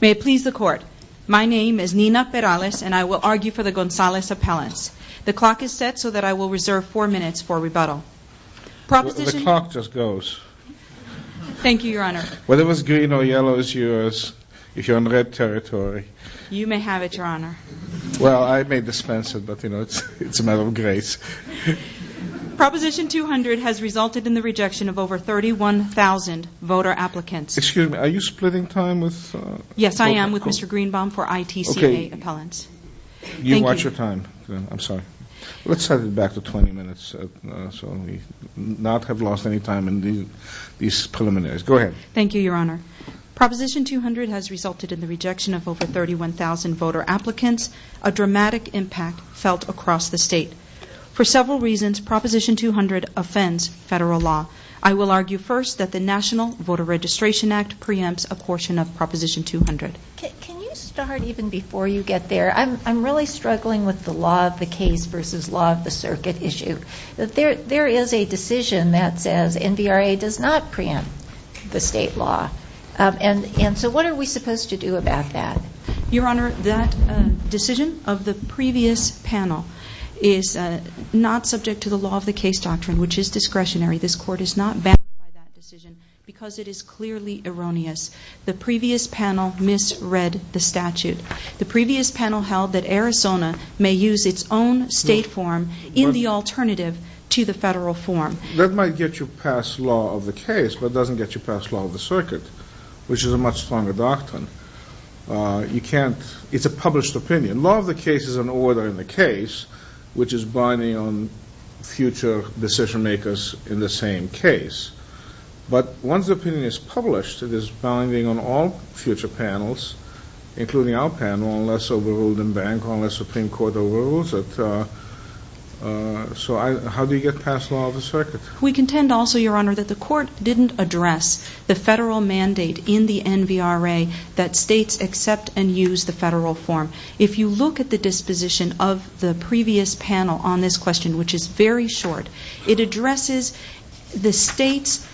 May it please the court. My name is Nina Perales and I will argue for the Gonzalez appellants. The clock is set so that I will reserve four minutes for rebuttal. The clock just goes. Thank you, your honor. Whether it was green or yellow is yours if you're on red territory. You may have it, your honor. Well, I may dispense it, but it's a matter of grace. Proposition 200 has resulted in the rejection of over 31,000 voter applicants. Excuse me, are you splitting time with? Yes, I am with Mr. Greenbaum for ITCA appellants. You watch your time. I'm sorry. Let's set it back to 20 minutes so we not have lost any time in these preliminaries. Go ahead. Thank you, your honor. Proposition 200 has resulted in the rejection of over 31,000 voter applicants, a dramatic impact felt across the state. For several reasons, Proposition 200 offends federal law. I will argue first that the National Voter Registration Act preempts a portion of Proposition 200. Can you start even before you get there? I'm really struggling with the law of the case versus law of the circuit issue. There is a decision that says NVRA does not preempt the state law, and so what are we supposed to do about that? Your honor, that decision of the previous panel is not subject to the law of the case doctrine, which is discretionary. This court is not bound by that decision because it is clearly erroneous. The previous panel misread the statute. The previous panel held that Arizona may use its own state form in the alternative to the federal form. That might get you past law of the case, but it doesn't get you past law of the circuit, which is a much stronger doctrine. It's a published opinion. Law of the case is an order in the case, which is binding on future decision makers in the same case. But once the opinion is published, it is binding on all future panels, including our panel, unless overruled in bank, unless Supreme Court overrules it. So how do you get past law of the circuit? We contend also, Your Honor, that the court didn't address the federal mandate in the NVRA that states accept and use the federal form. If you look at the disposition of the previous panel on this question, which is very short, it addresses the state's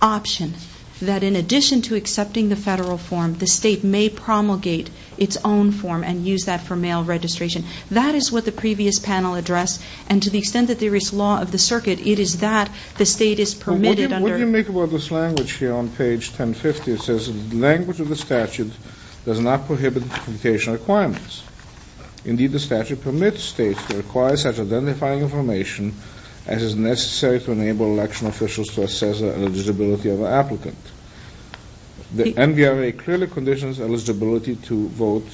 option that in addition to accepting the federal form, the state may promulgate its own form and use that for mail registration. That is what the previous panel addressed. And to the extent that there is law of the circuit, it is that the state is permitted under. What do you make about this language here on page 1050? It says the language of the statute does not prohibit limitation requirements. Indeed, the statute permits states to require such identifying information as is necessary to enable election officials to assess the eligibility of an applicant. The NVRA clearly conditions eligibility to vote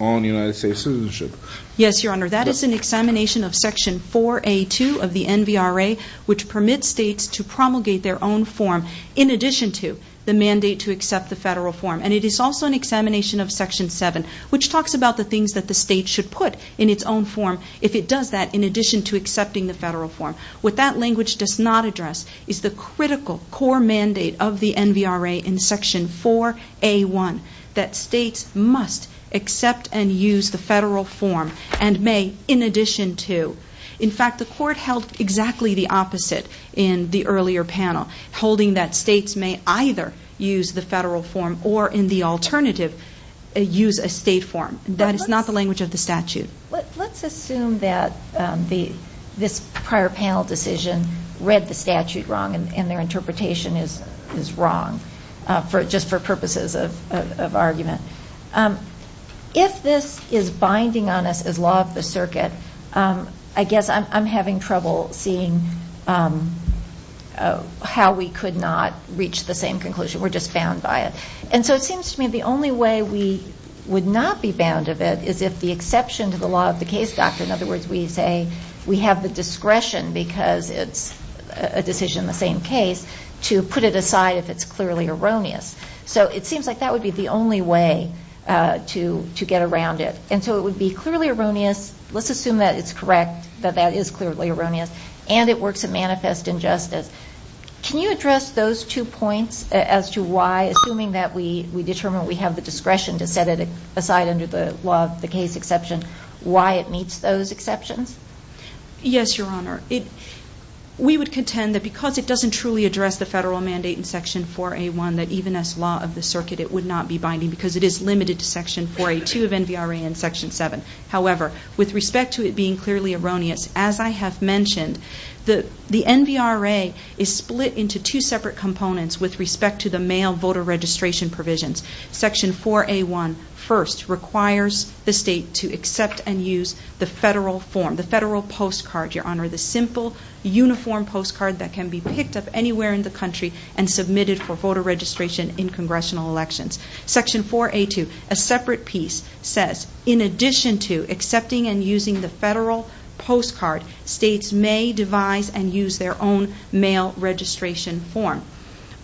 on United States citizenship. Yes, Your Honor, that is an examination of Section 4A2 of the NVRA, which permits states to promulgate their own form in addition to the mandate to accept the federal form. And it is also an examination of Section 7, which talks about the things that the state should put in its own form if it does that, in addition to accepting the federal form. What that language does not address is the critical core mandate of the NVRA in Section 4A1 that states must accept and use the federal form and may, in addition to. In fact, the Court held exactly the opposite in the earlier panel, holding that states may either use the federal form or, in the alternative, use a state form. That is not the language of the statute. Let's assume that this prior panel decision read the statute wrong and their interpretation is wrong, just for purposes of argument. If this is binding on us as law of the circuit, I guess I'm having trouble seeing how we could not reach the same conclusion. We're just bound by it. And so it seems to me the only way we would not be bound of it is if the exception to the law of the case doctrine, in other words we say we have the discretion because it's a decision in the same case, to put it aside if it's clearly erroneous. So it seems like that would be the only way to get around it. And so it would be clearly erroneous. Let's assume that it's correct, that that is clearly erroneous, and it works to manifest injustice. Can you address those two points as to why, assuming that we determine we have the discretion to set it aside under the law of the case exception, why it meets those exceptions? Yes, Your Honor. We would contend that because it doesn't truly address the federal mandate in Section 4A1 that even as law of the circuit it would not be binding because it is limited to Section 4A2 of NVRA and Section 7. However, with respect to it being clearly erroneous, as I have mentioned, the NVRA is split into two separate components with respect to the mail voter registration provisions. Section 4A1 first requires the state to accept and use the federal form, the federal postcard, Your Honor, the simple uniform postcard that can be picked up anywhere in the country and submitted for voter registration in congressional elections. Section 4A2, a separate piece, says, in addition to accepting and using the federal postcard, states may devise and use their own mail registration form.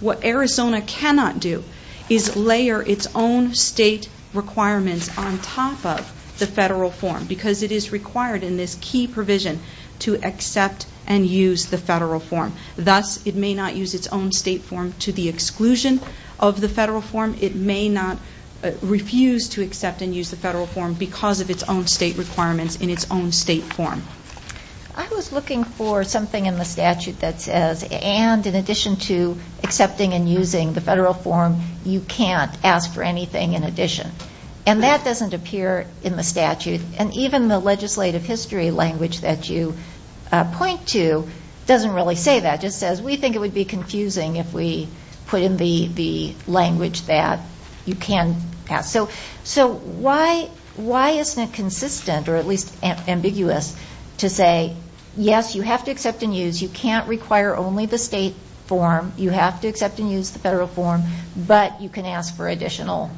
What Arizona cannot do is layer its own state requirements on top of the federal form because it is required in this key provision to accept and use the federal form. Thus, it may not use its own state form to the exclusion of the federal form. It may not refuse to accept and use the federal form because of its own state requirements in its own state form. I was looking for something in the statute that says, and in addition to accepting and using the federal form, you can't ask for anything in addition. And that doesn't appear in the statute. And even the legislative history language that you point to doesn't really say that. It just says, we think it would be confusing if we put in the language that you can ask. So why isn't it consistent, or at least ambiguous, to say, yes, you have to accept and use, you can't require only the state form, you have to accept and use the federal form, but you can ask for additional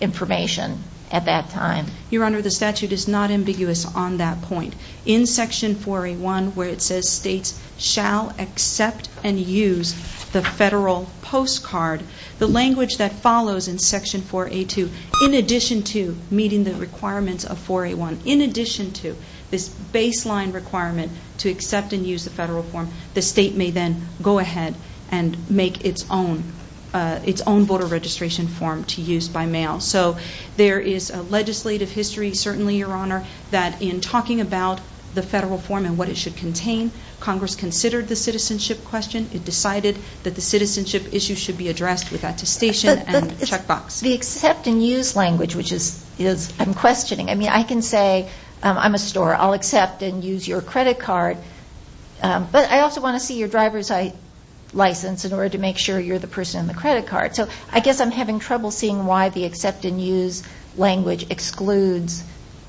information at that time? Your Honor, the statute is not ambiguous on that point. In Section 4A1, where it says states shall accept and use the federal postcard, the language that follows in Section 4A2, in addition to meeting the requirements of 4A1, in addition to this baseline requirement to accept and use the federal form, the state may then go ahead and make its own voter registration form to use by mail. So there is a legislative history, certainly, Your Honor, that in talking about the federal form and what it should contain, Congress considered the citizenship question. It decided that the citizenship issue should be addressed with attestation and checkbox. The accept and use language, which I'm questioning. I mean, I can say, I'm a store. I'll accept and use your credit card. But I also want to see your driver's license in order to make sure you're the person in the credit card. So I guess I'm having trouble seeing why the accept and use language excludes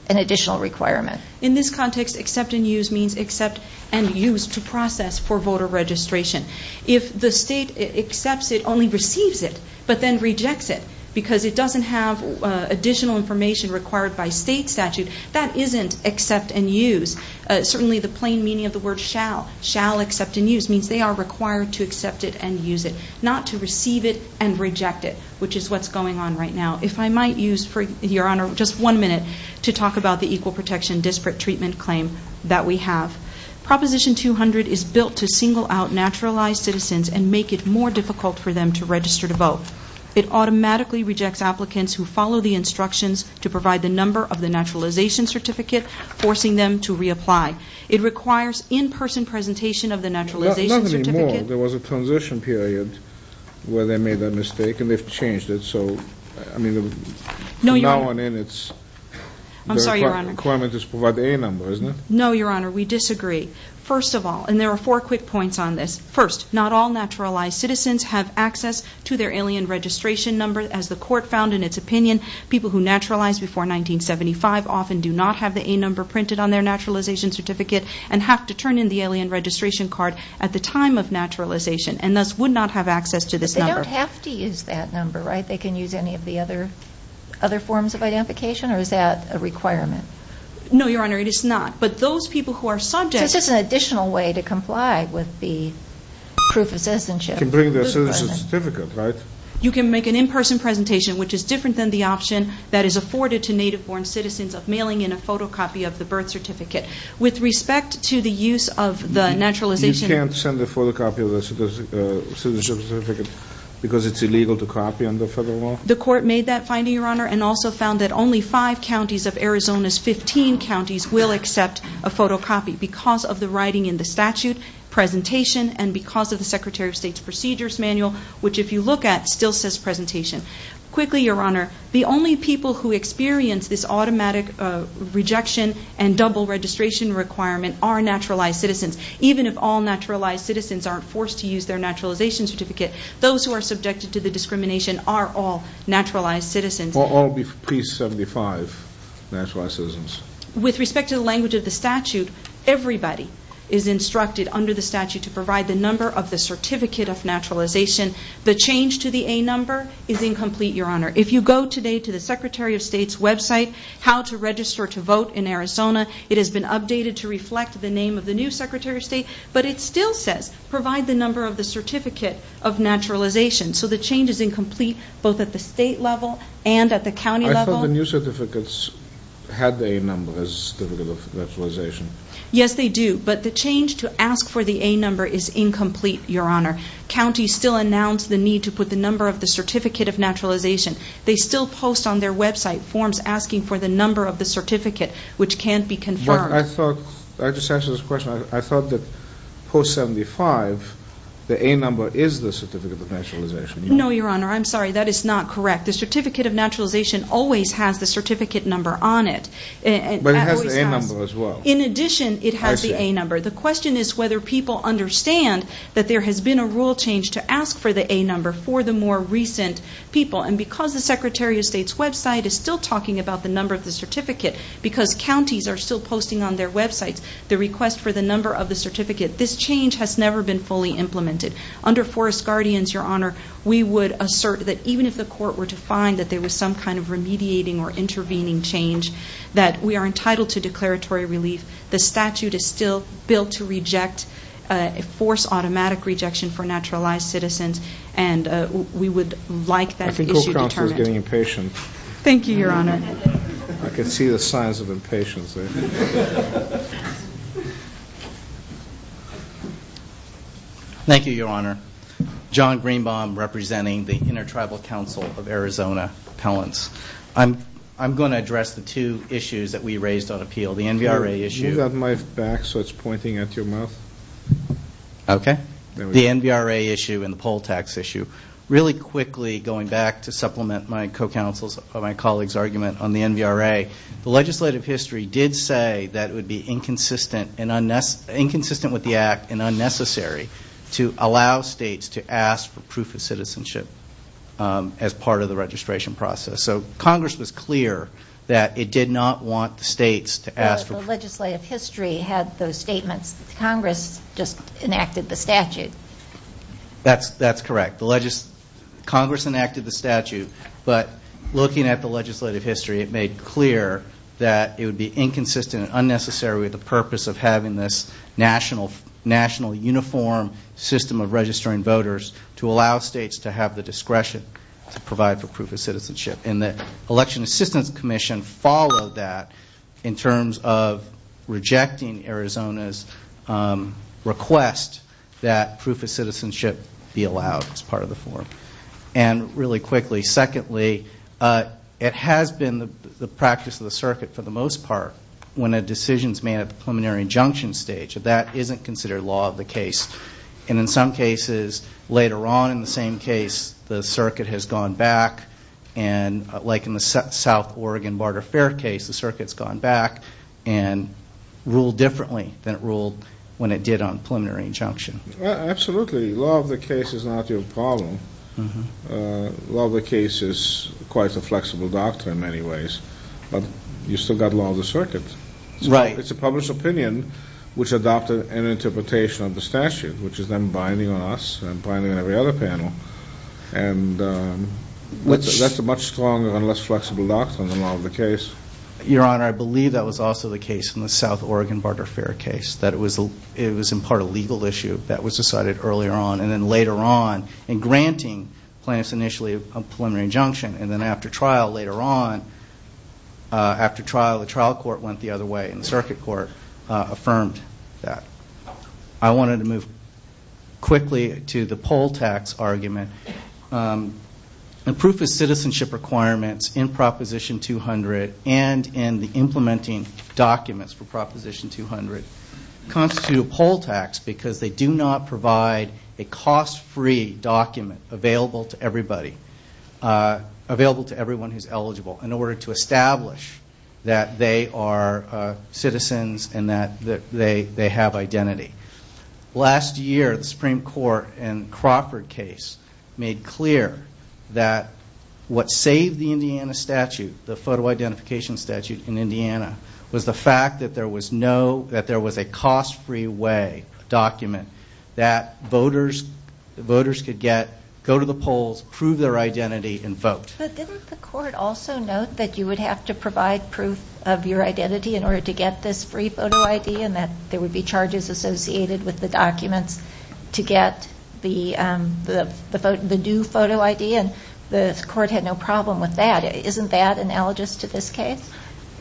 an additional requirement. In this context, accept and use means accept and use to process for voter registration. If the state accepts it, only receives it, but then rejects it because it doesn't have additional information required by state statute, that isn't accept and use. Certainly, the plain meaning of the word shall, shall accept and use, means they are required to accept it and use it, not to receive it and reject it, which is what's going on right now. If I might use, Your Honor, just one minute to talk about the equal protection disparate treatment claim that we have. Proposition 200 is built to single out naturalized citizens and make it more difficult for them to register to vote. It automatically rejects applicants who follow the instructions to provide the number of the naturalization certificate, forcing them to reapply. It requires in-person presentation of the naturalization certificate. Nothing anymore. There was a transition period where they made that mistake, and they've changed it. So, I mean, from now on in, it's... I'm sorry, Your Honor. The requirement is to provide the A number, isn't it? No, Your Honor, we disagree. First of all, and there are four quick points on this. First, not all naturalized citizens have access to their alien registration number. As the court found in its opinion, people who naturalized before 1975 often do not have the A number printed on their naturalization certificate and have to turn in the alien registration card at the time of naturalization and thus would not have access to this number. But they don't have to use that number, right? They can use any of the other forms of identification, or is that a requirement? No, Your Honor, it is not. But those people who are subject... So it's just an additional way to comply with the proof of citizenship. You can bring their citizenship certificate, right? You can make an in-person presentation, which is different than the option that is afforded to native-born citizens of mailing in a photocopy of the birth certificate. With respect to the use of the naturalization... You can't send a photocopy of the citizenship certificate because it's illegal to copy under federal law? The court made that finding, Your Honor, and also found that only five counties of Arizona's 15 counties will accept a photocopy because of the writing in the statute, presentation, and because of the Secretary of State's procedures manual, which, if you look at, still says presentation. Quickly, Your Honor, the only people who experience this automatic rejection and double registration requirement are naturalized citizens. Even if all naturalized citizens aren't forced to use their naturalization certificate, those who are subjected to the discrimination are all naturalized citizens. Or all pre-75 naturalized citizens. With respect to the language of the statute, everybody is instructed under the statute to provide the number of the certificate of naturalization. The change to the A number is incomplete, Your Honor. If you go today to the Secretary of State's website, How to Register to Vote in Arizona, it has been updated to reflect the name of the new Secretary of State, but it still says provide the number of the certificate of naturalization. So the change is incomplete both at the state level and at the county level. I thought the new certificates had the A number as the certificate of naturalization. Yes, they do. But the change to ask for the A number is incomplete, Your Honor. Counties still announce the need to put the number of the certificate of naturalization. They still post on their website forms asking for the number of the certificate, which can't be confirmed. But I thought, I just answered this question, I thought that post-75, the A number is the certificate of naturalization. No, Your Honor, I'm sorry, that is not correct. The certificate of naturalization always has the certificate number on it. But it has the A number as well. In addition, it has the A number. The question is whether people understand that there has been a rule change to ask for the A number for the more recent people. And because the Secretary of State's website is still talking about the number of the certificate, because counties are still posting on their websites the request for the number of the certificate, this change has never been fully implemented. Under Forest Guardians, Your Honor, we would assert that even if the court were to find that there was some kind of remediating or intervening change, that we are entitled to declaratory relief. The statute is still built to reject, force automatic rejection for naturalized citizens, and we would like that issue determined. I think your counsel is getting impatient. Thank you, Your Honor. I can see the signs of impatience there. Thank you, Your Honor. John Greenbaum, representing the Intertribal Council of Arizona Appellants. I'm going to address the two issues that we raised on appeal. The NVRA issue. Move that mic back so it's pointing at your mouth. Okay. The NVRA issue and the poll tax issue. Really quickly, going back to supplement my co-counsel's or my colleague's argument on the NVRA, the legislative history did say that it would be inconsistent with the act and unnecessary to allow states to ask for proof of citizenship as part of the registration process. So Congress was clear that it did not want the states to ask for proof. Well, the legislative history had those statements. Congress just enacted the statute. That's correct. Congress enacted the statute, but looking at the legislative history, it made clear that it would be inconsistent and unnecessary with the purpose of having this national uniform system of registering voters to allow states to have the discretion to provide for proof of citizenship. And the Election Assistance Commission followed that in terms of rejecting Arizona's request that proof of citizenship be allowed as part of the form. And really quickly, secondly, it has been the practice of the circuit for the most part when a decision is made at the preliminary injunction stage, that that isn't considered law of the case. And in some cases, later on in the same case, the circuit has gone back, and like in the South Oregon Barter Fair case, the circuit's gone back and ruled differently than it ruled when it did on preliminary injunction. Absolutely. Law of the case is not your problem. Law of the case is quite a flexible doctrine in many ways. But you've still got law of the circuit. Right. It's a published opinion which adopted an interpretation of the statute, which is then binding on us and binding on every other panel. And that's a much stronger and less flexible doctrine than law of the case. Your Honor, I believe that was also the case in the South Oregon Barter Fair case, that it was in part a legal issue that was decided earlier on and then later on in granting plaintiffs initially a preliminary injunction. And then after trial, later on, after trial, the trial court went the other way and the circuit court affirmed that. I wanted to move quickly to the poll tax argument. The proof of citizenship requirements in Proposition 200 and in the implementing documents for Proposition 200 constitute a poll tax because they do not provide a cost-free document available to everybody, available to everyone who's eligible, in order to establish that they are citizens and that they have identity. Last year, the Supreme Court in Crawford case made clear that what saved the Indiana statute, the photo identification statute in Indiana, was the fact that there was a cost-free way document that voters could get, go to the polls, prove their identity, and vote. But didn't the court also note that you would have to provide proof of your identity in order to get this free photo ID and that there would be charges associated with the documents to get the new photo ID? And the court had no problem with that. Isn't that analogous to this case?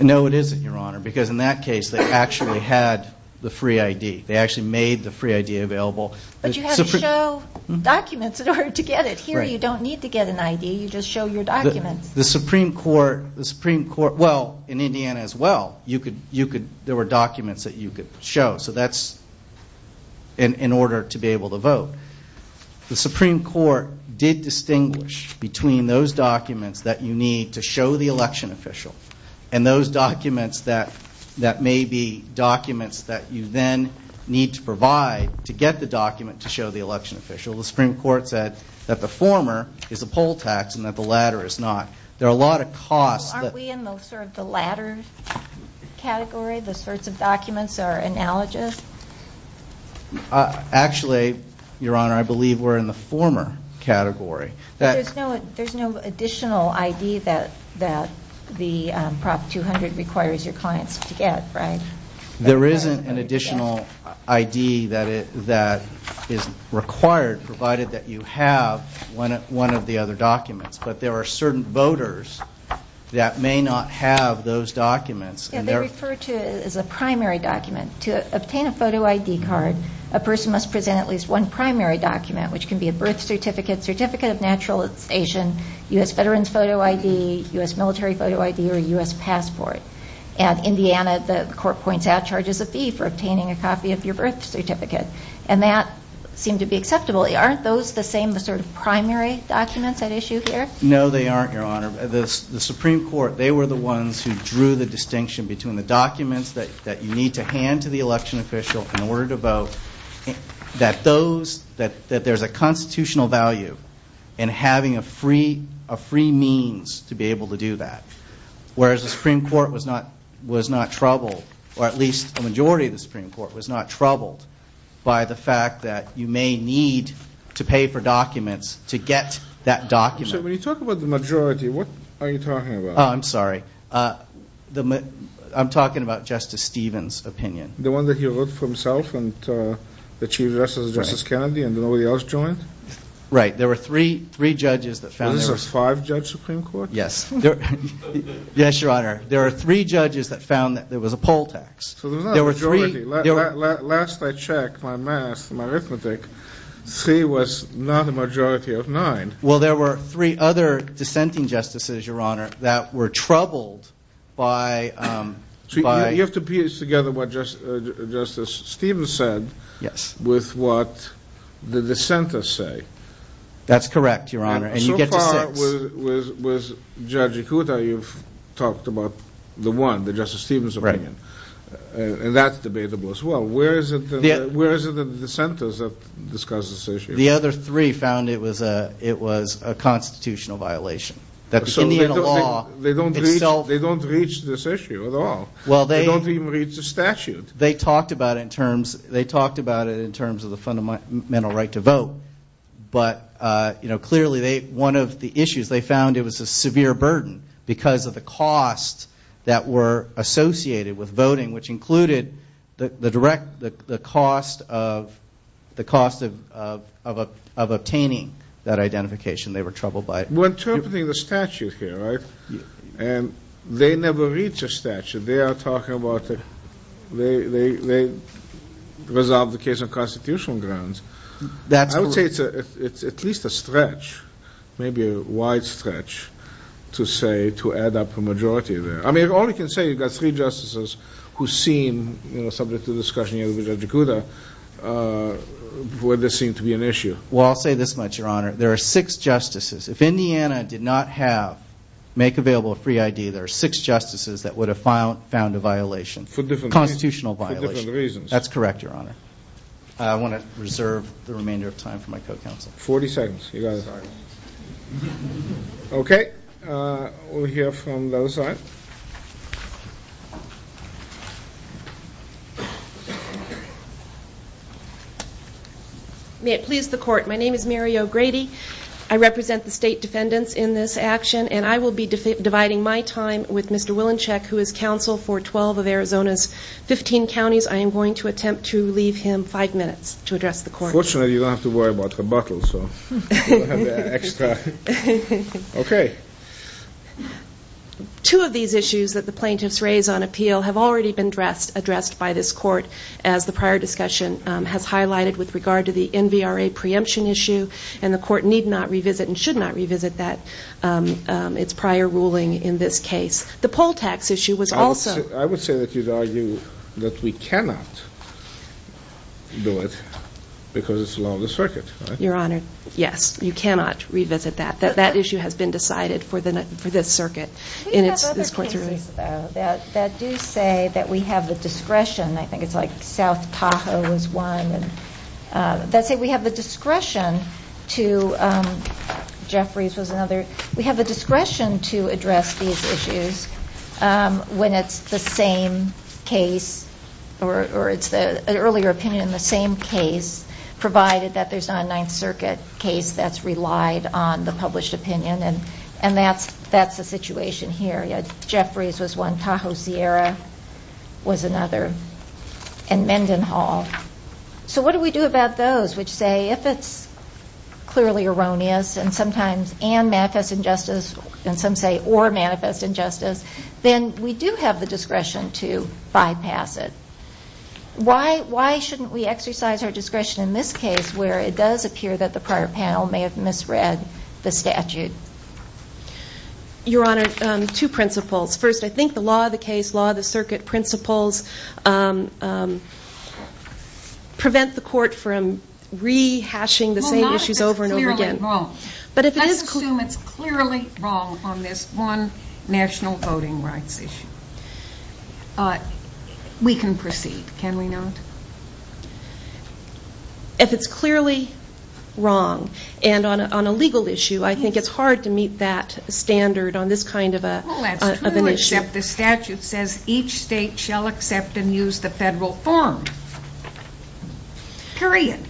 No, it isn't, Your Honor, because in that case they actually had the free ID. They actually made the free ID available. But you had to show documents in order to get it. Here you don't need to get an ID. You just show your documents. The Supreme Court, well, in Indiana as well, there were documents that you could show. So that's in order to be able to vote. The Supreme Court did distinguish between those documents that you need to show the election official and those documents that may be documents that you then need to provide to get the document to show the election official. The Supreme Court said that the former is a poll tax and that the latter is not. There are a lot of costs. Aren't we in sort of the latter category, the sorts of documents that are analogous? Actually, Your Honor, I believe we're in the former category. There's no additional ID that the Prop 200 requires your clients to get, right? There isn't an additional ID that is required provided that you have one of the other documents. But there are certain voters that may not have those documents. They refer to it as a primary document. To obtain a photo ID card, a person must present at least one primary document, which can be a birth certificate, certificate of naturalization, U.S. veteran's photo ID, U.S. military photo ID, or U.S. passport. In Indiana, the court points out charges of fee for obtaining a copy of your birth certificate. And that seemed to be acceptable. Aren't those the same sort of primary documents at issue here? No, they aren't, Your Honor. The Supreme Court, they were the ones who drew the distinction between the documents that you need to hand to the election official in order to vote, that there's a constitutional value in having a free means to be able to do that. Whereas the Supreme Court was not troubled, or at least the majority of the Supreme Court was not troubled, by the fact that you may need to pay for documents to get that document. So when you talk about the majority, what are you talking about? Oh, I'm sorry. I'm talking about Justice Stevens' opinion. The one that he wrote for himself and the Chief Justice, Justice Kennedy, and nobody else joined? Right. There were three judges that found that there was a poll tax. Was this a five-judge Supreme Court? Yes, Your Honor. There were three judges that found that there was a poll tax. So there's not a majority. Last I checked my math, my arithmetic, three was not a majority of nine. Well, there were three other dissenting justices, Your Honor, that were troubled by – So you have to piece together what Justice Stevens said with what the dissenters say. That's correct, Your Honor, and you get to six. So far with Judge Ikuta, you've talked about the one, the Justice Stevens' opinion, and that's debatable as well. Where is it that the dissenters have discussed this issue? The other three found it was a constitutional violation. So they don't reach this issue at all. They don't even reach the statute. They talked about it in terms of the fundamental right to vote, but clearly one of the issues they found it was a severe burden because of the costs that were associated with voting, which included the cost of obtaining that identification. They were troubled by it. We're interpreting the statute here, right? And they never reach a statute. They are talking about they resolved the case on constitutional grounds. I would say it's at least a stretch, maybe a wide stretch to say to add up a majority there. I mean, all I can say is you've got three justices who seem, you know, subject to the discussion here with Judge Ikuta where this seemed to be an issue. Well, I'll say this much, Your Honor. There are six justices. If Indiana did not make available a free ID, there are six justices that would have found a violation, a constitutional violation. For different reasons. That's correct, Your Honor. I want to reserve the remainder of time for my co-counsel. Forty seconds. Okay. We'll hear from the other side. May it please the Court. My name is Mary O'Grady. I represent the state defendants in this action, and I will be dividing my time with Mr. Willinchick, who is counsel for 12 of Arizona's 15 counties. I am going to attempt to leave him five minutes to address the Court. Unfortunately, you don't have to worry about rebuttals. Okay. Two of these issues that the plaintiffs raise on appeal have already been addressed by this Court, as the prior discussion has highlighted with regard to the NVRA preemption issue, and the Court need not revisit and should not revisit its prior ruling in this case. The poll tax issue was also. I would say that you'd argue that we cannot do it because it's law of the circuit, right? Your Honor, yes. You cannot revisit that. That issue has been decided for this circuit. We have other cases, though, that do say that we have the discretion. I think it's like South Tahoe was one. Let's say we have the discretion to address these issues when it's the same case or it's an earlier opinion in the same case, provided that there's not a Ninth Circuit case that's relied on the published opinion, and that's the situation here. Jeffries was one. Tahoe Sierra was another. And Mendenhall. So what do we do about those which say if it's clearly erroneous and sometimes and manifest injustice and some say or manifest injustice, then we do have the discretion to bypass it. Why shouldn't we exercise our discretion in this case where it does appear that the prior panel may have misread the statute? Your Honor, two principles. First, I think the law of the case, law of the circuit principles, prevent the court from rehashing the same issues over and over again. Well, not if it's clearly wrong. Let's assume it's clearly wrong on this one national voting rights issue. We can proceed, can we not? If it's clearly wrong and on a legal issue, I think it's hard to meet that standard on this kind of an issue. Well, that's true except the statute says each state shall accept and use the federal form, period.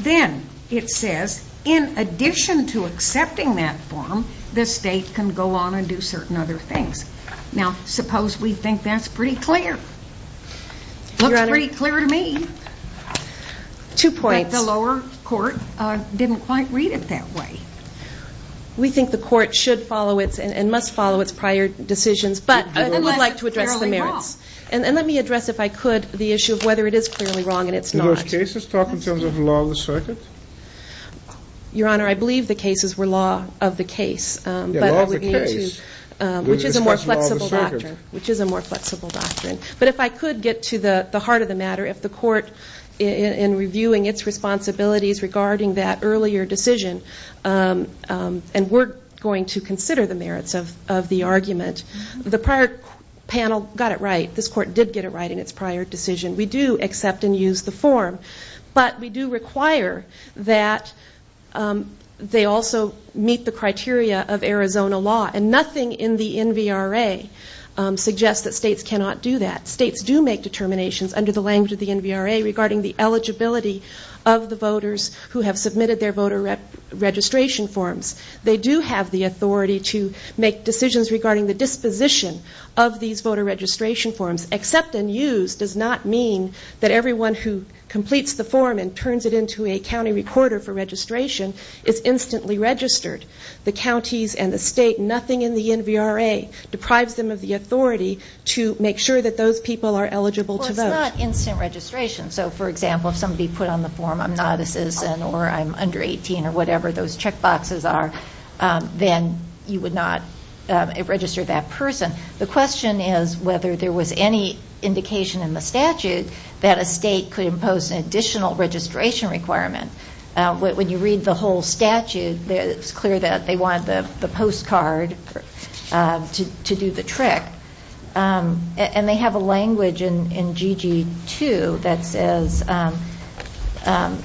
Then it says in addition to accepting that form, the state can go on and do certain other things. Now, suppose we think that's pretty clear. It looks pretty clear to me. Two points. But the lower court didn't quite read it that way. We think the court should follow and must follow its prior decisions, but I would like to address the merits. Let me address, if I could, the issue of whether it is clearly wrong and it's not. Do those cases talk in terms of law of the circuit? Your Honor, I believe the cases were law of the case, which is a more flexible doctrine. But if I could get to the heart of the matter, if the court, in reviewing its responsibilities regarding that earlier decision, and we're going to consider the merits of the argument, the prior panel got it right. This court did get it right in its prior decision. We do accept and use the form, but we do require that they also meet the criteria of Arizona law, and nothing in the NVRA suggests that states cannot do that. States do make determinations under the language of the NVRA regarding the eligibility of the voters who have submitted their voter registration forms. They do have the authority to make decisions regarding the disposition of these voter registration forms. Accept and use does not mean that everyone who completes the form and turns it into a county recorder for registration is instantly registered. The counties and the state, nothing in the NVRA deprives them of the authority to make sure that those people are eligible to vote. Well, it's not instant registration. So, for example, if somebody put on the form, I'm not a citizen or I'm under 18 or whatever those checkboxes are, then you would not register that person. The question is whether there was any indication in the statute that a state could impose an additional registration requirement. When you read the whole statute, it's clear that they wanted the postcard to do the trick. And they have a language in GG2 that says,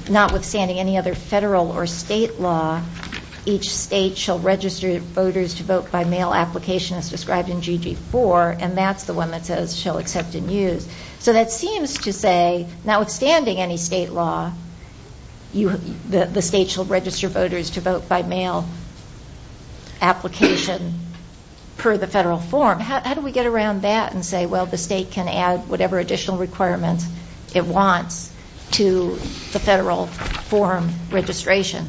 notwithstanding any other federal or state law, each state shall register voters to vote by mail application as described in GG4, and that's the one that says shall accept and use. So that seems to say, notwithstanding any state law, the state shall register voters to vote by mail application per the federal form. How do we get around that and say, well, the state can add whatever additional requirements it wants to the federal form registration?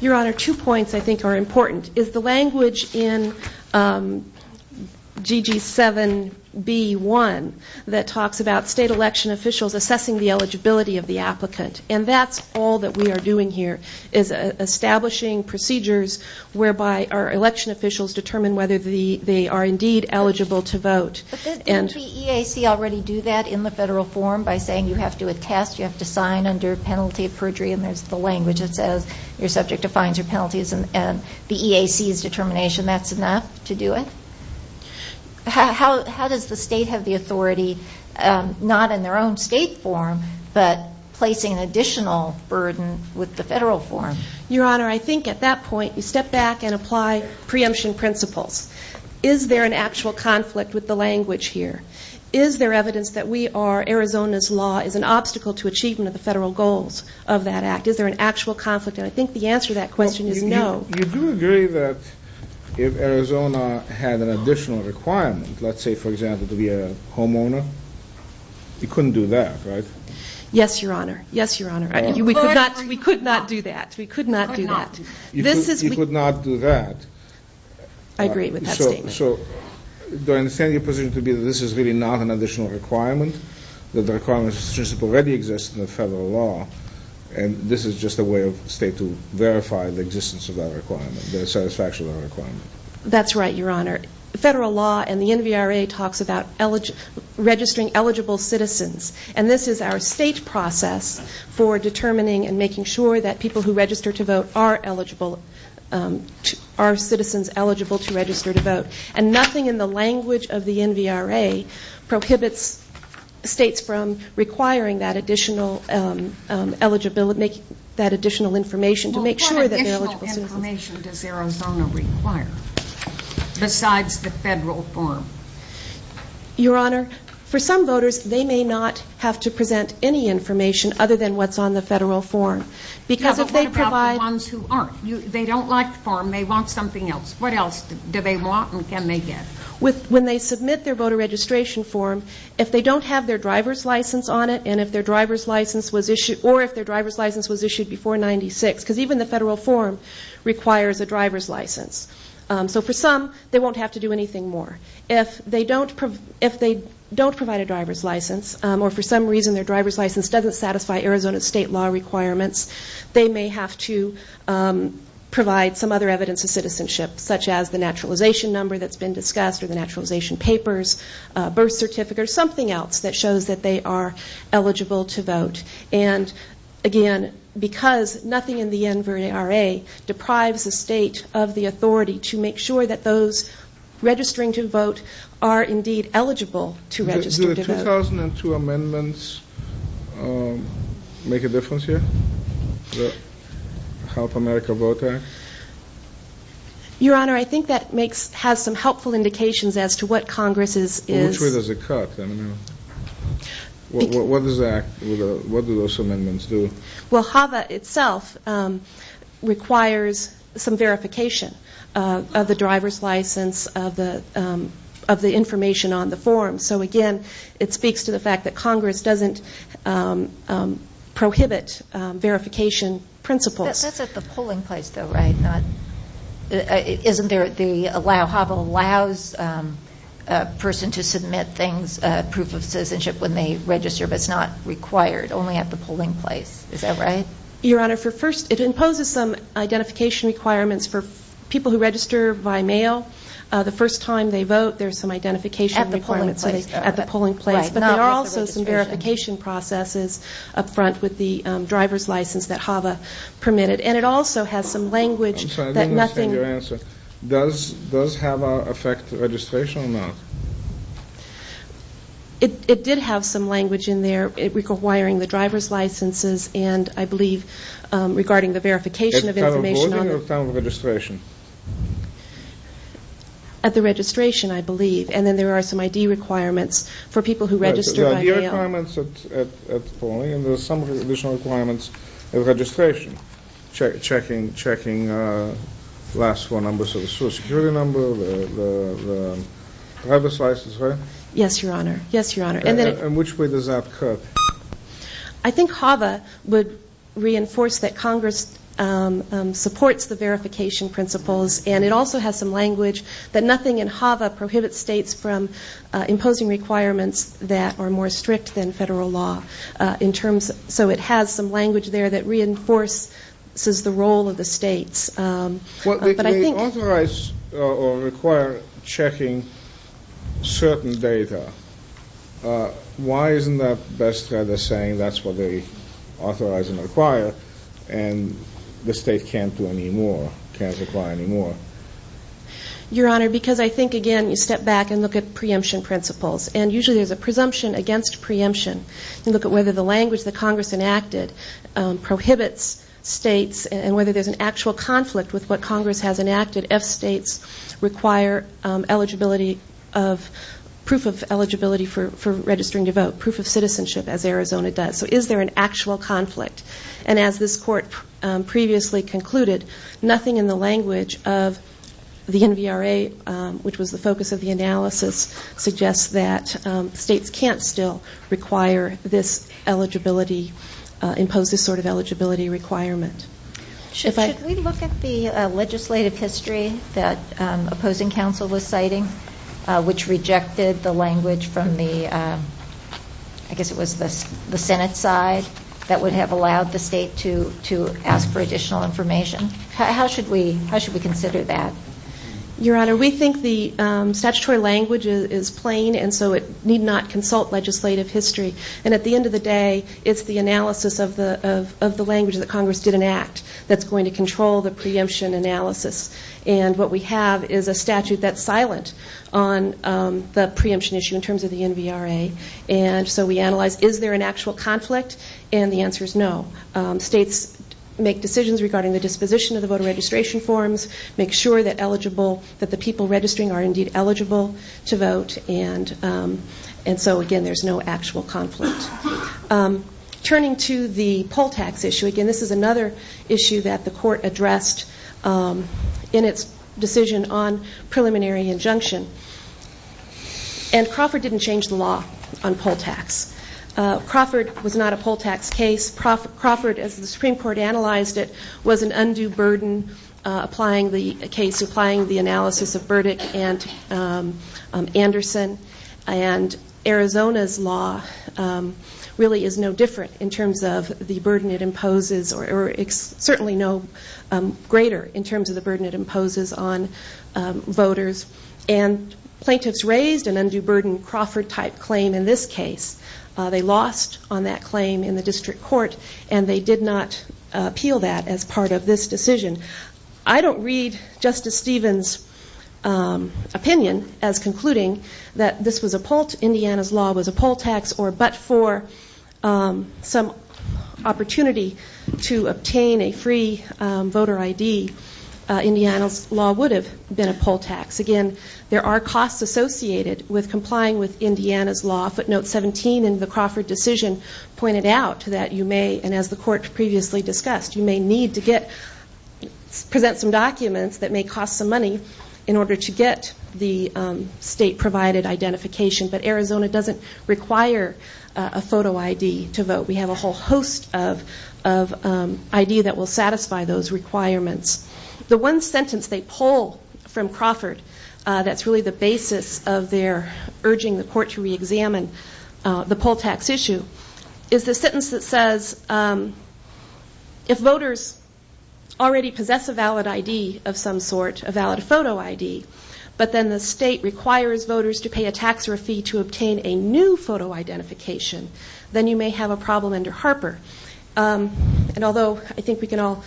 Your Honor, two points I think are important. It's the language in GG7B1 that talks about state election officials assessing the eligibility of the applicant, and that's all that we are doing here is establishing procedures whereby our election officials determine whether they are indeed eligible to vote. But doesn't the EAC already do that in the federal form by saying you have to attest, you have to sign under penalty of perjury, and there's the language that says your subject defines your penalties, and the EAC's determination that's enough to do it? How does the state have the authority, not in their own state form, but placing an additional burden with the federal form? Your Honor, I think at that point you step back and apply preemption principles. Is there an actual conflict with the language here? Is there evidence that Arizona's law is an obstacle to achievement of the federal goals of that act? Is there an actual conflict? And I think the answer to that question is no. You do agree that if Arizona had an additional requirement, let's say, for example, to be a homeowner, you couldn't do that, right? Yes, Your Honor. Yes, Your Honor. We could not do that. We could not do that. You could not do that. I agree with that statement. So do I understand your position to be that this is really not an additional requirement, that the requirements already exist in the federal law, and this is just a way for the state to verify the existence of that requirement, the satisfaction of that requirement? That's right, Your Honor. The federal law and the NVRA talks about registering eligible citizens, and this is our state process for determining and making sure that people who register to vote are eligible, are citizens eligible to register to vote. And nothing in the language of the NVRA prohibits states from requiring that additional information to make sure that they're eligible citizens. What information does Arizona require besides the federal form? Your Honor, for some voters, they may not have to present any information other than what's on the federal form. Yeah, but what about the ones who aren't? They don't like the form, they want something else. What else do they want and can they get? When they submit their voter registration form, if they don't have their driver's license on it and if their driver's license was issued or if their driver's license was issued before 96, because even the federal form requires a driver's license. So for some, they won't have to do anything more. If they don't provide a driver's license, or for some reason their driver's license doesn't satisfy Arizona state law requirements, they may have to provide some other evidence of citizenship, such as the naturalization number that's been discussed or the naturalization papers, birth certificate, or something else that shows that they are eligible to vote. Again, because nothing in the NVRA deprives the state of the authority to make sure that those registering to vote are indeed eligible to register to vote. Do the 2002 amendments make a difference here? The Help America Vote Act? Your Honor, I think that has some helpful indications as to what Congress is... Which way does it cut? What do those amendments do? Well, HAVA itself requires some verification of the driver's license, of the information on the form. So again, it speaks to the fact that Congress doesn't prohibit verification principles. That's at the polling place though, right? Isn't there the allow? HAVA allows a person to submit proof of citizenship when they register, but it's not required, only at the polling place. Is that right? Your Honor, it imposes some identification requirements for people who register by mail. The first time they vote, there's some identification requirements at the polling place. But there are also some verification processes up front with the driver's license that HAVA permitted. And it also has some language that nothing... I'm sorry, I didn't understand your answer. Does HAVA affect registration or not? It did have some language in there requiring the driver's licenses and, I believe, regarding the verification of information on the... At time of voting or time of registration? At the registration, I believe. And then there are some ID requirements for people who register by mail. There are ID requirements at polling and there are some additional requirements at registration. Checking last row numbers of the social security number, the driver's license, right? Yes, Your Honor. Yes, Your Honor. In which way does that cut? I think HAVA would reinforce that Congress supports the verification principles and it also has some language that nothing in HAVA prohibits states from imposing requirements that are more strict than federal law in terms of... So it has some language there that reinforces the role of the states. But I think... If they authorize or require checking certain data, why isn't that best rather saying that's what they authorize and require and the state can't do any more, can't require any more? Your Honor, because I think, again, you step back and look at preemption principles. And usually there's a presumption against preemption. You look at whether the language that Congress enacted prohibits states and whether there's an actual conflict with what Congress has enacted. If states require eligibility of proof of eligibility for registering to vote, proof of citizenship, as Arizona does. So is there an actual conflict? And as this Court previously concluded, nothing in the language of the NVRA, which was the focus of the analysis, suggests that states can't still require this eligibility, impose this sort of eligibility requirement. Should we look at the legislative history that opposing counsel was citing, which rejected the language from the, I guess it was the Senate side, that would have allowed the state to ask for additional information? How should we consider that? Your Honor, we think the statutory language is plain and so it need not consult legislative history. And at the end of the day, it's the analysis of the language that Congress did enact that's going to control the preemption analysis. And what we have is a statute that's silent on the preemption issue in terms of the NVRA. And so we analyze, is there an actual conflict? And the answer is no. States make decisions regarding the disposition of the voter registration forms, make sure that the people registering are indeed eligible to vote. And so, again, there's no actual conflict. Turning to the poll tax issue, again, this is another issue that the Court addressed in its decision on preliminary injunction. And Crawford didn't change the law on poll tax. Crawford was not a poll tax case. Crawford, as the Supreme Court analyzed it, was an undue burden applying the analysis of Burdick and Anderson. And Arizona's law really is no different in terms of the burden it imposes or certainly no greater in terms of the burden it imposes on voters. And plaintiffs raised an undue burden Crawford-type claim in this case. They lost on that claim in the district court, and they did not appeal that as part of this decision. I don't read Justice Stevens' opinion as concluding that this was a poll, Indiana's law was a poll tax, or but for some opportunity to obtain a free voter ID, Indiana's law would have been a poll tax. Again, there are costs associated with complying with Indiana's law. Footnote 17 in the Crawford decision pointed out that you may, and as the Court previously discussed, you may need to present some documents that may cost some money in order to get the state-provided identification. But Arizona doesn't require a photo ID to vote. We have a whole host of ID that will satisfy those requirements. The one sentence they pull from Crawford that's really the basis of their urging the Court to reexamine the poll tax issue is the sentence that says if voters already possess a valid ID of some sort, a valid photo ID, but then the state requires voters to pay a tax or a fee to obtain a new photo identification, then you may have a problem under Harper. And although I think we can all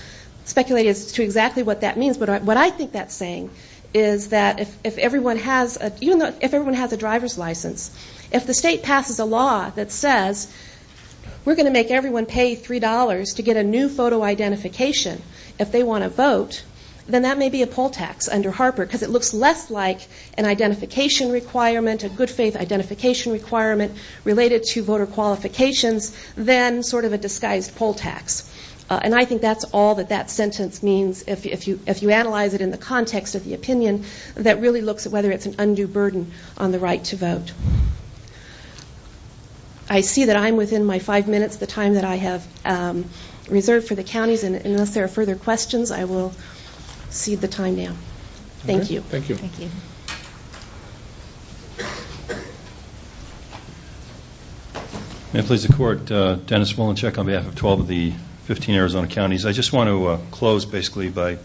speculate as to exactly what that means, but what I think that's saying is that if everyone has a driver's license, if the state passes a law that says we're going to make everyone pay $3 to get a new photo identification if they want to vote, then that may be a poll tax under Harper because it looks less like an identification requirement, a good faith identification requirement related to voter qualifications than sort of a disguised poll tax. And I think that's all that that sentence means if you analyze it in the context of the opinion that really looks at whether it's an undue burden on the right to vote. I see that I'm within my five minutes, the time that I have reserved for the counties, and unless there are further questions, I will cede the time now. Thank you. Thank you. Thank you. May it please the Court. Dennis Mullencheck on behalf of 12 of the 15 Arizona counties. I just want to close basically by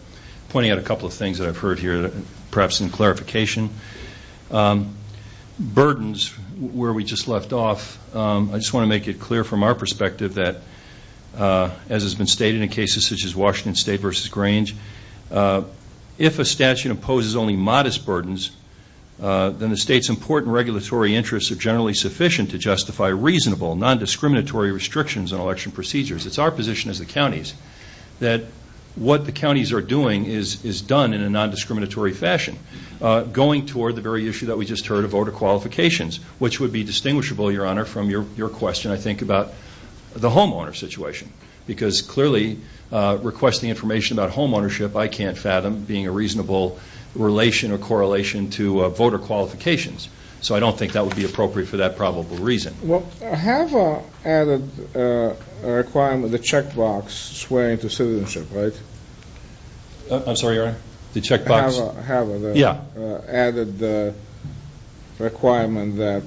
pointing out a couple of things that I've heard here, perhaps in clarification. Burdens, where we just left off, I just want to make it clear from our perspective that, as has been stated in cases such as Washington State versus Grange, if a statute imposes only modest burdens, then the state's important regulatory interests are generally sufficient to justify reasonable, non-discriminatory restrictions on election procedures. It's our position as the counties that what the counties are doing is done in a non-discriminatory fashion, going toward the very issue that we just heard of voter qualifications, which would be distinguishable, Your Honor, from your question, I think, about the homeowner situation, because clearly requesting information about homeownership, I can't fathom, being a reasonable relation or correlation to voter qualifications. So I don't think that would be appropriate for that probable reason. Well, HAVA added a requirement, the checkbox, swearing to citizenship, right? I'm sorry, Your Honor? The checkbox? HAVA. Yeah. Added the requirement that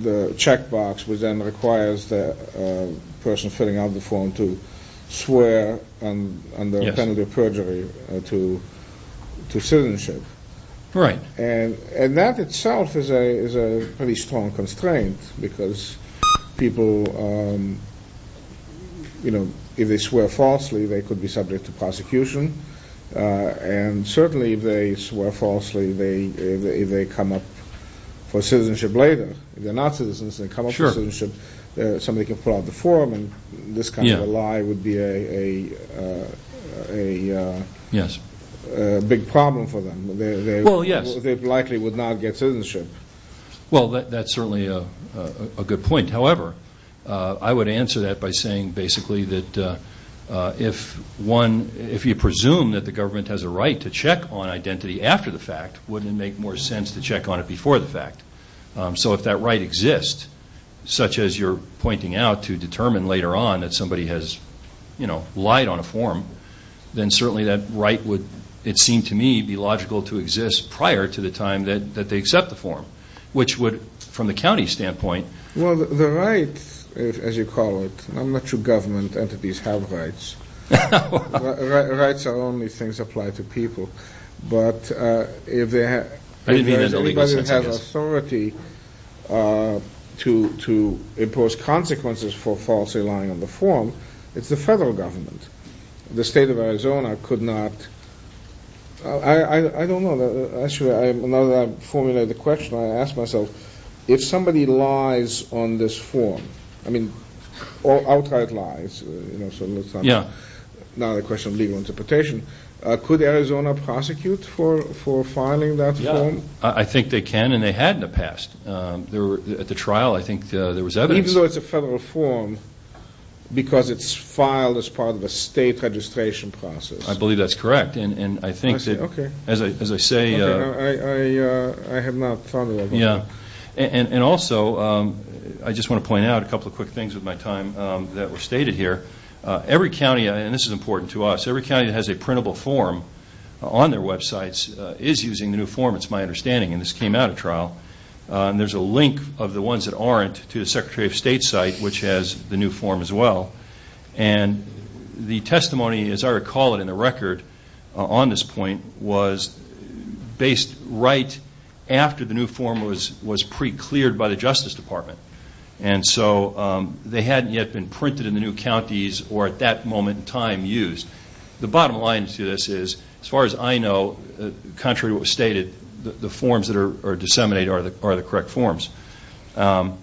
the checkbox would then require the person filling out the form to swear under a penalty of perjury to citizenship. Right. And that itself is a pretty strong constraint, because people, you know, if they swear falsely, they could be subject to prosecution, and certainly if they swear falsely, they come up for citizenship later. If they're not citizens and they come up for citizenship, somebody can pull out the form, and this kind of a lie would be a big problem for them. Well, yes. They likely would not get citizenship. Well, that's certainly a good point. However, I would answer that by saying, basically, that if you presume that the government has a right to check on identity after the fact, wouldn't it make more sense to check on it before the fact? So if that right exists, such as you're pointing out, to determine later on that somebody has, you know, lied on a form, then certainly that right would, it seemed to me, be logical to exist prior to the time that they accept the form, which would, from the county standpoint. Well, the right, as you call it, I'm not sure government entities have rights. Rights are only things applied to people. But if anybody has authority to impose consequences for falsely lying on the form, it's the federal government. The state of Arizona could not. I don't know. Actually, now that I've formulated the question, I ask myself, if somebody lies on this form, I mean, outright lies, you know, not a question of legal interpretation, could Arizona prosecute for filing that form? I think they can, and they had in the past. At the trial, I think there was evidence. Even though it's a federal form because it's filed as part of a state registration process. I believe that's correct. Okay. As I say. Okay. I have not thought about that. Yeah. And also, I just want to point out a couple of quick things with my time that were stated here. Every county, and this is important to us, every county that has a printable form on their websites is using the new form. It's my understanding. And this came out at trial. And there's a link of the ones that aren't to the Secretary of State's site, which has the new form as well. And the testimony, as I recall it in the record on this point, was based right after the new form was pre-cleared by the Justice Department. And so they hadn't yet been printed in the new counties or at that moment in time used. The bottom line to this is, as far as I know, contrary to what was stated, the forms that are disseminated are the correct forms. And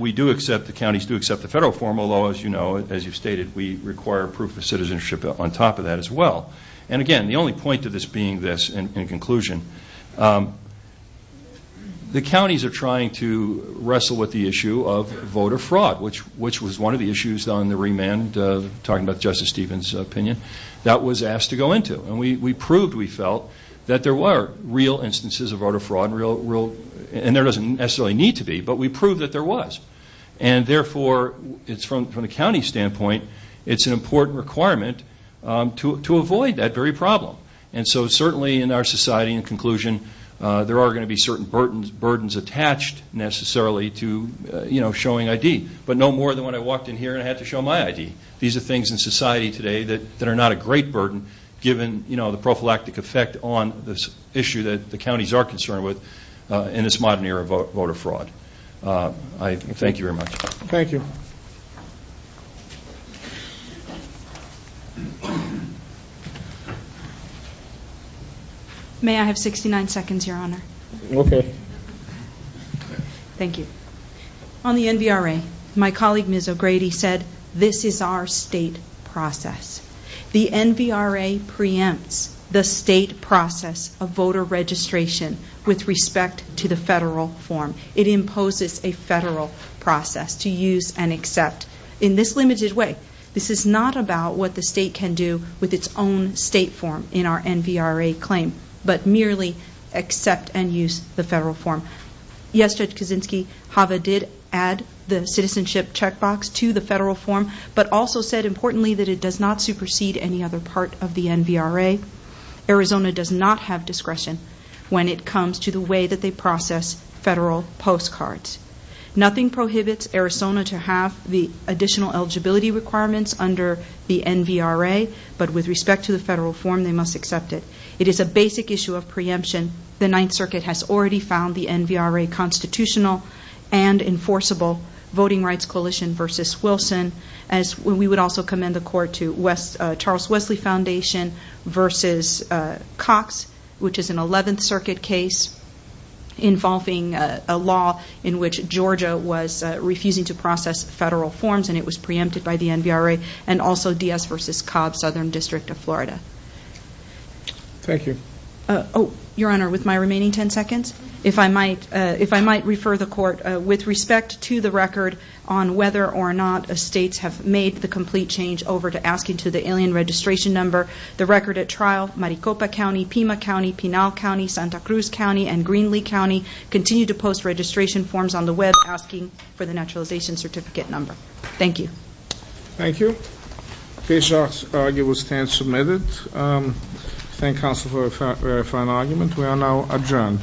we do accept, the counties do accept the federal form, although, as you know, as you've stated, we require proof of citizenship on top of that as well. And, again, the only point to this being this, in conclusion, the counties are trying to wrestle with the issue of voter fraud, which was one of the issues on the remand, talking about Justice Stevens' opinion, that was asked to go into. And we proved, we felt, that there were real instances of voter fraud, and there doesn't necessarily need to be, but we proved that there was. And, therefore, from the county standpoint, it's an important requirement to avoid that very problem. And so, certainly, in our society, in conclusion, there are going to be certain burdens attached, necessarily, to showing ID. But no more than when I walked in here and I had to show my ID. These are things in society today that are not a great burden, given the prophylactic effect on this issue that the counties are concerned with in this modern era of voter fraud. Thank you very much. Thank you. May I have 69 seconds, Your Honor? Okay. Thank you. On the NVRA, my colleague, Ms. O'Grady, said, this is our state process. The NVRA preempts the state process of voter registration with respect to the federal form. It imposes a federal process to use and accept. In this limited way, this is not about what the state can do with its own state form in our NVRA claim, but merely accept and use the federal form. Yes, Judge Kaczynski, HAVA did add the citizenship checkbox to the federal form, but also said, importantly, that it does not supersede any other part of the NVRA. Arizona does not have discretion when it comes to the way that they process federal postcards. Nothing prohibits Arizona to have the additional eligibility requirements under the NVRA, but with respect to the federal form, they must accept it. It is a basic issue of preemption. The Ninth Circuit has already found the NVRA constitutional and enforceable voting rights coalition versus Wilson. We would also commend the court to Charles Wesley Foundation versus Cox, which is an Eleventh Circuit case involving a law in which Georgia was refusing to process federal forms, and it was preempted by the NVRA, and also Diaz versus Cobb, Southern District of Florida. Your Honor, with my remaining ten seconds, if I might refer the court with respect to the record on whether or not estates have made the complete change over to asking to the alien registration number. The record at trial, Maricopa County, Pima County, Pinal County, Santa Cruz County, and Greenlee County, continue to post registration forms on the web asking for the naturalization certificate number. Thank you. Thank you. Case argument stands submitted. Thank counsel for a very fine argument. We are now adjourned.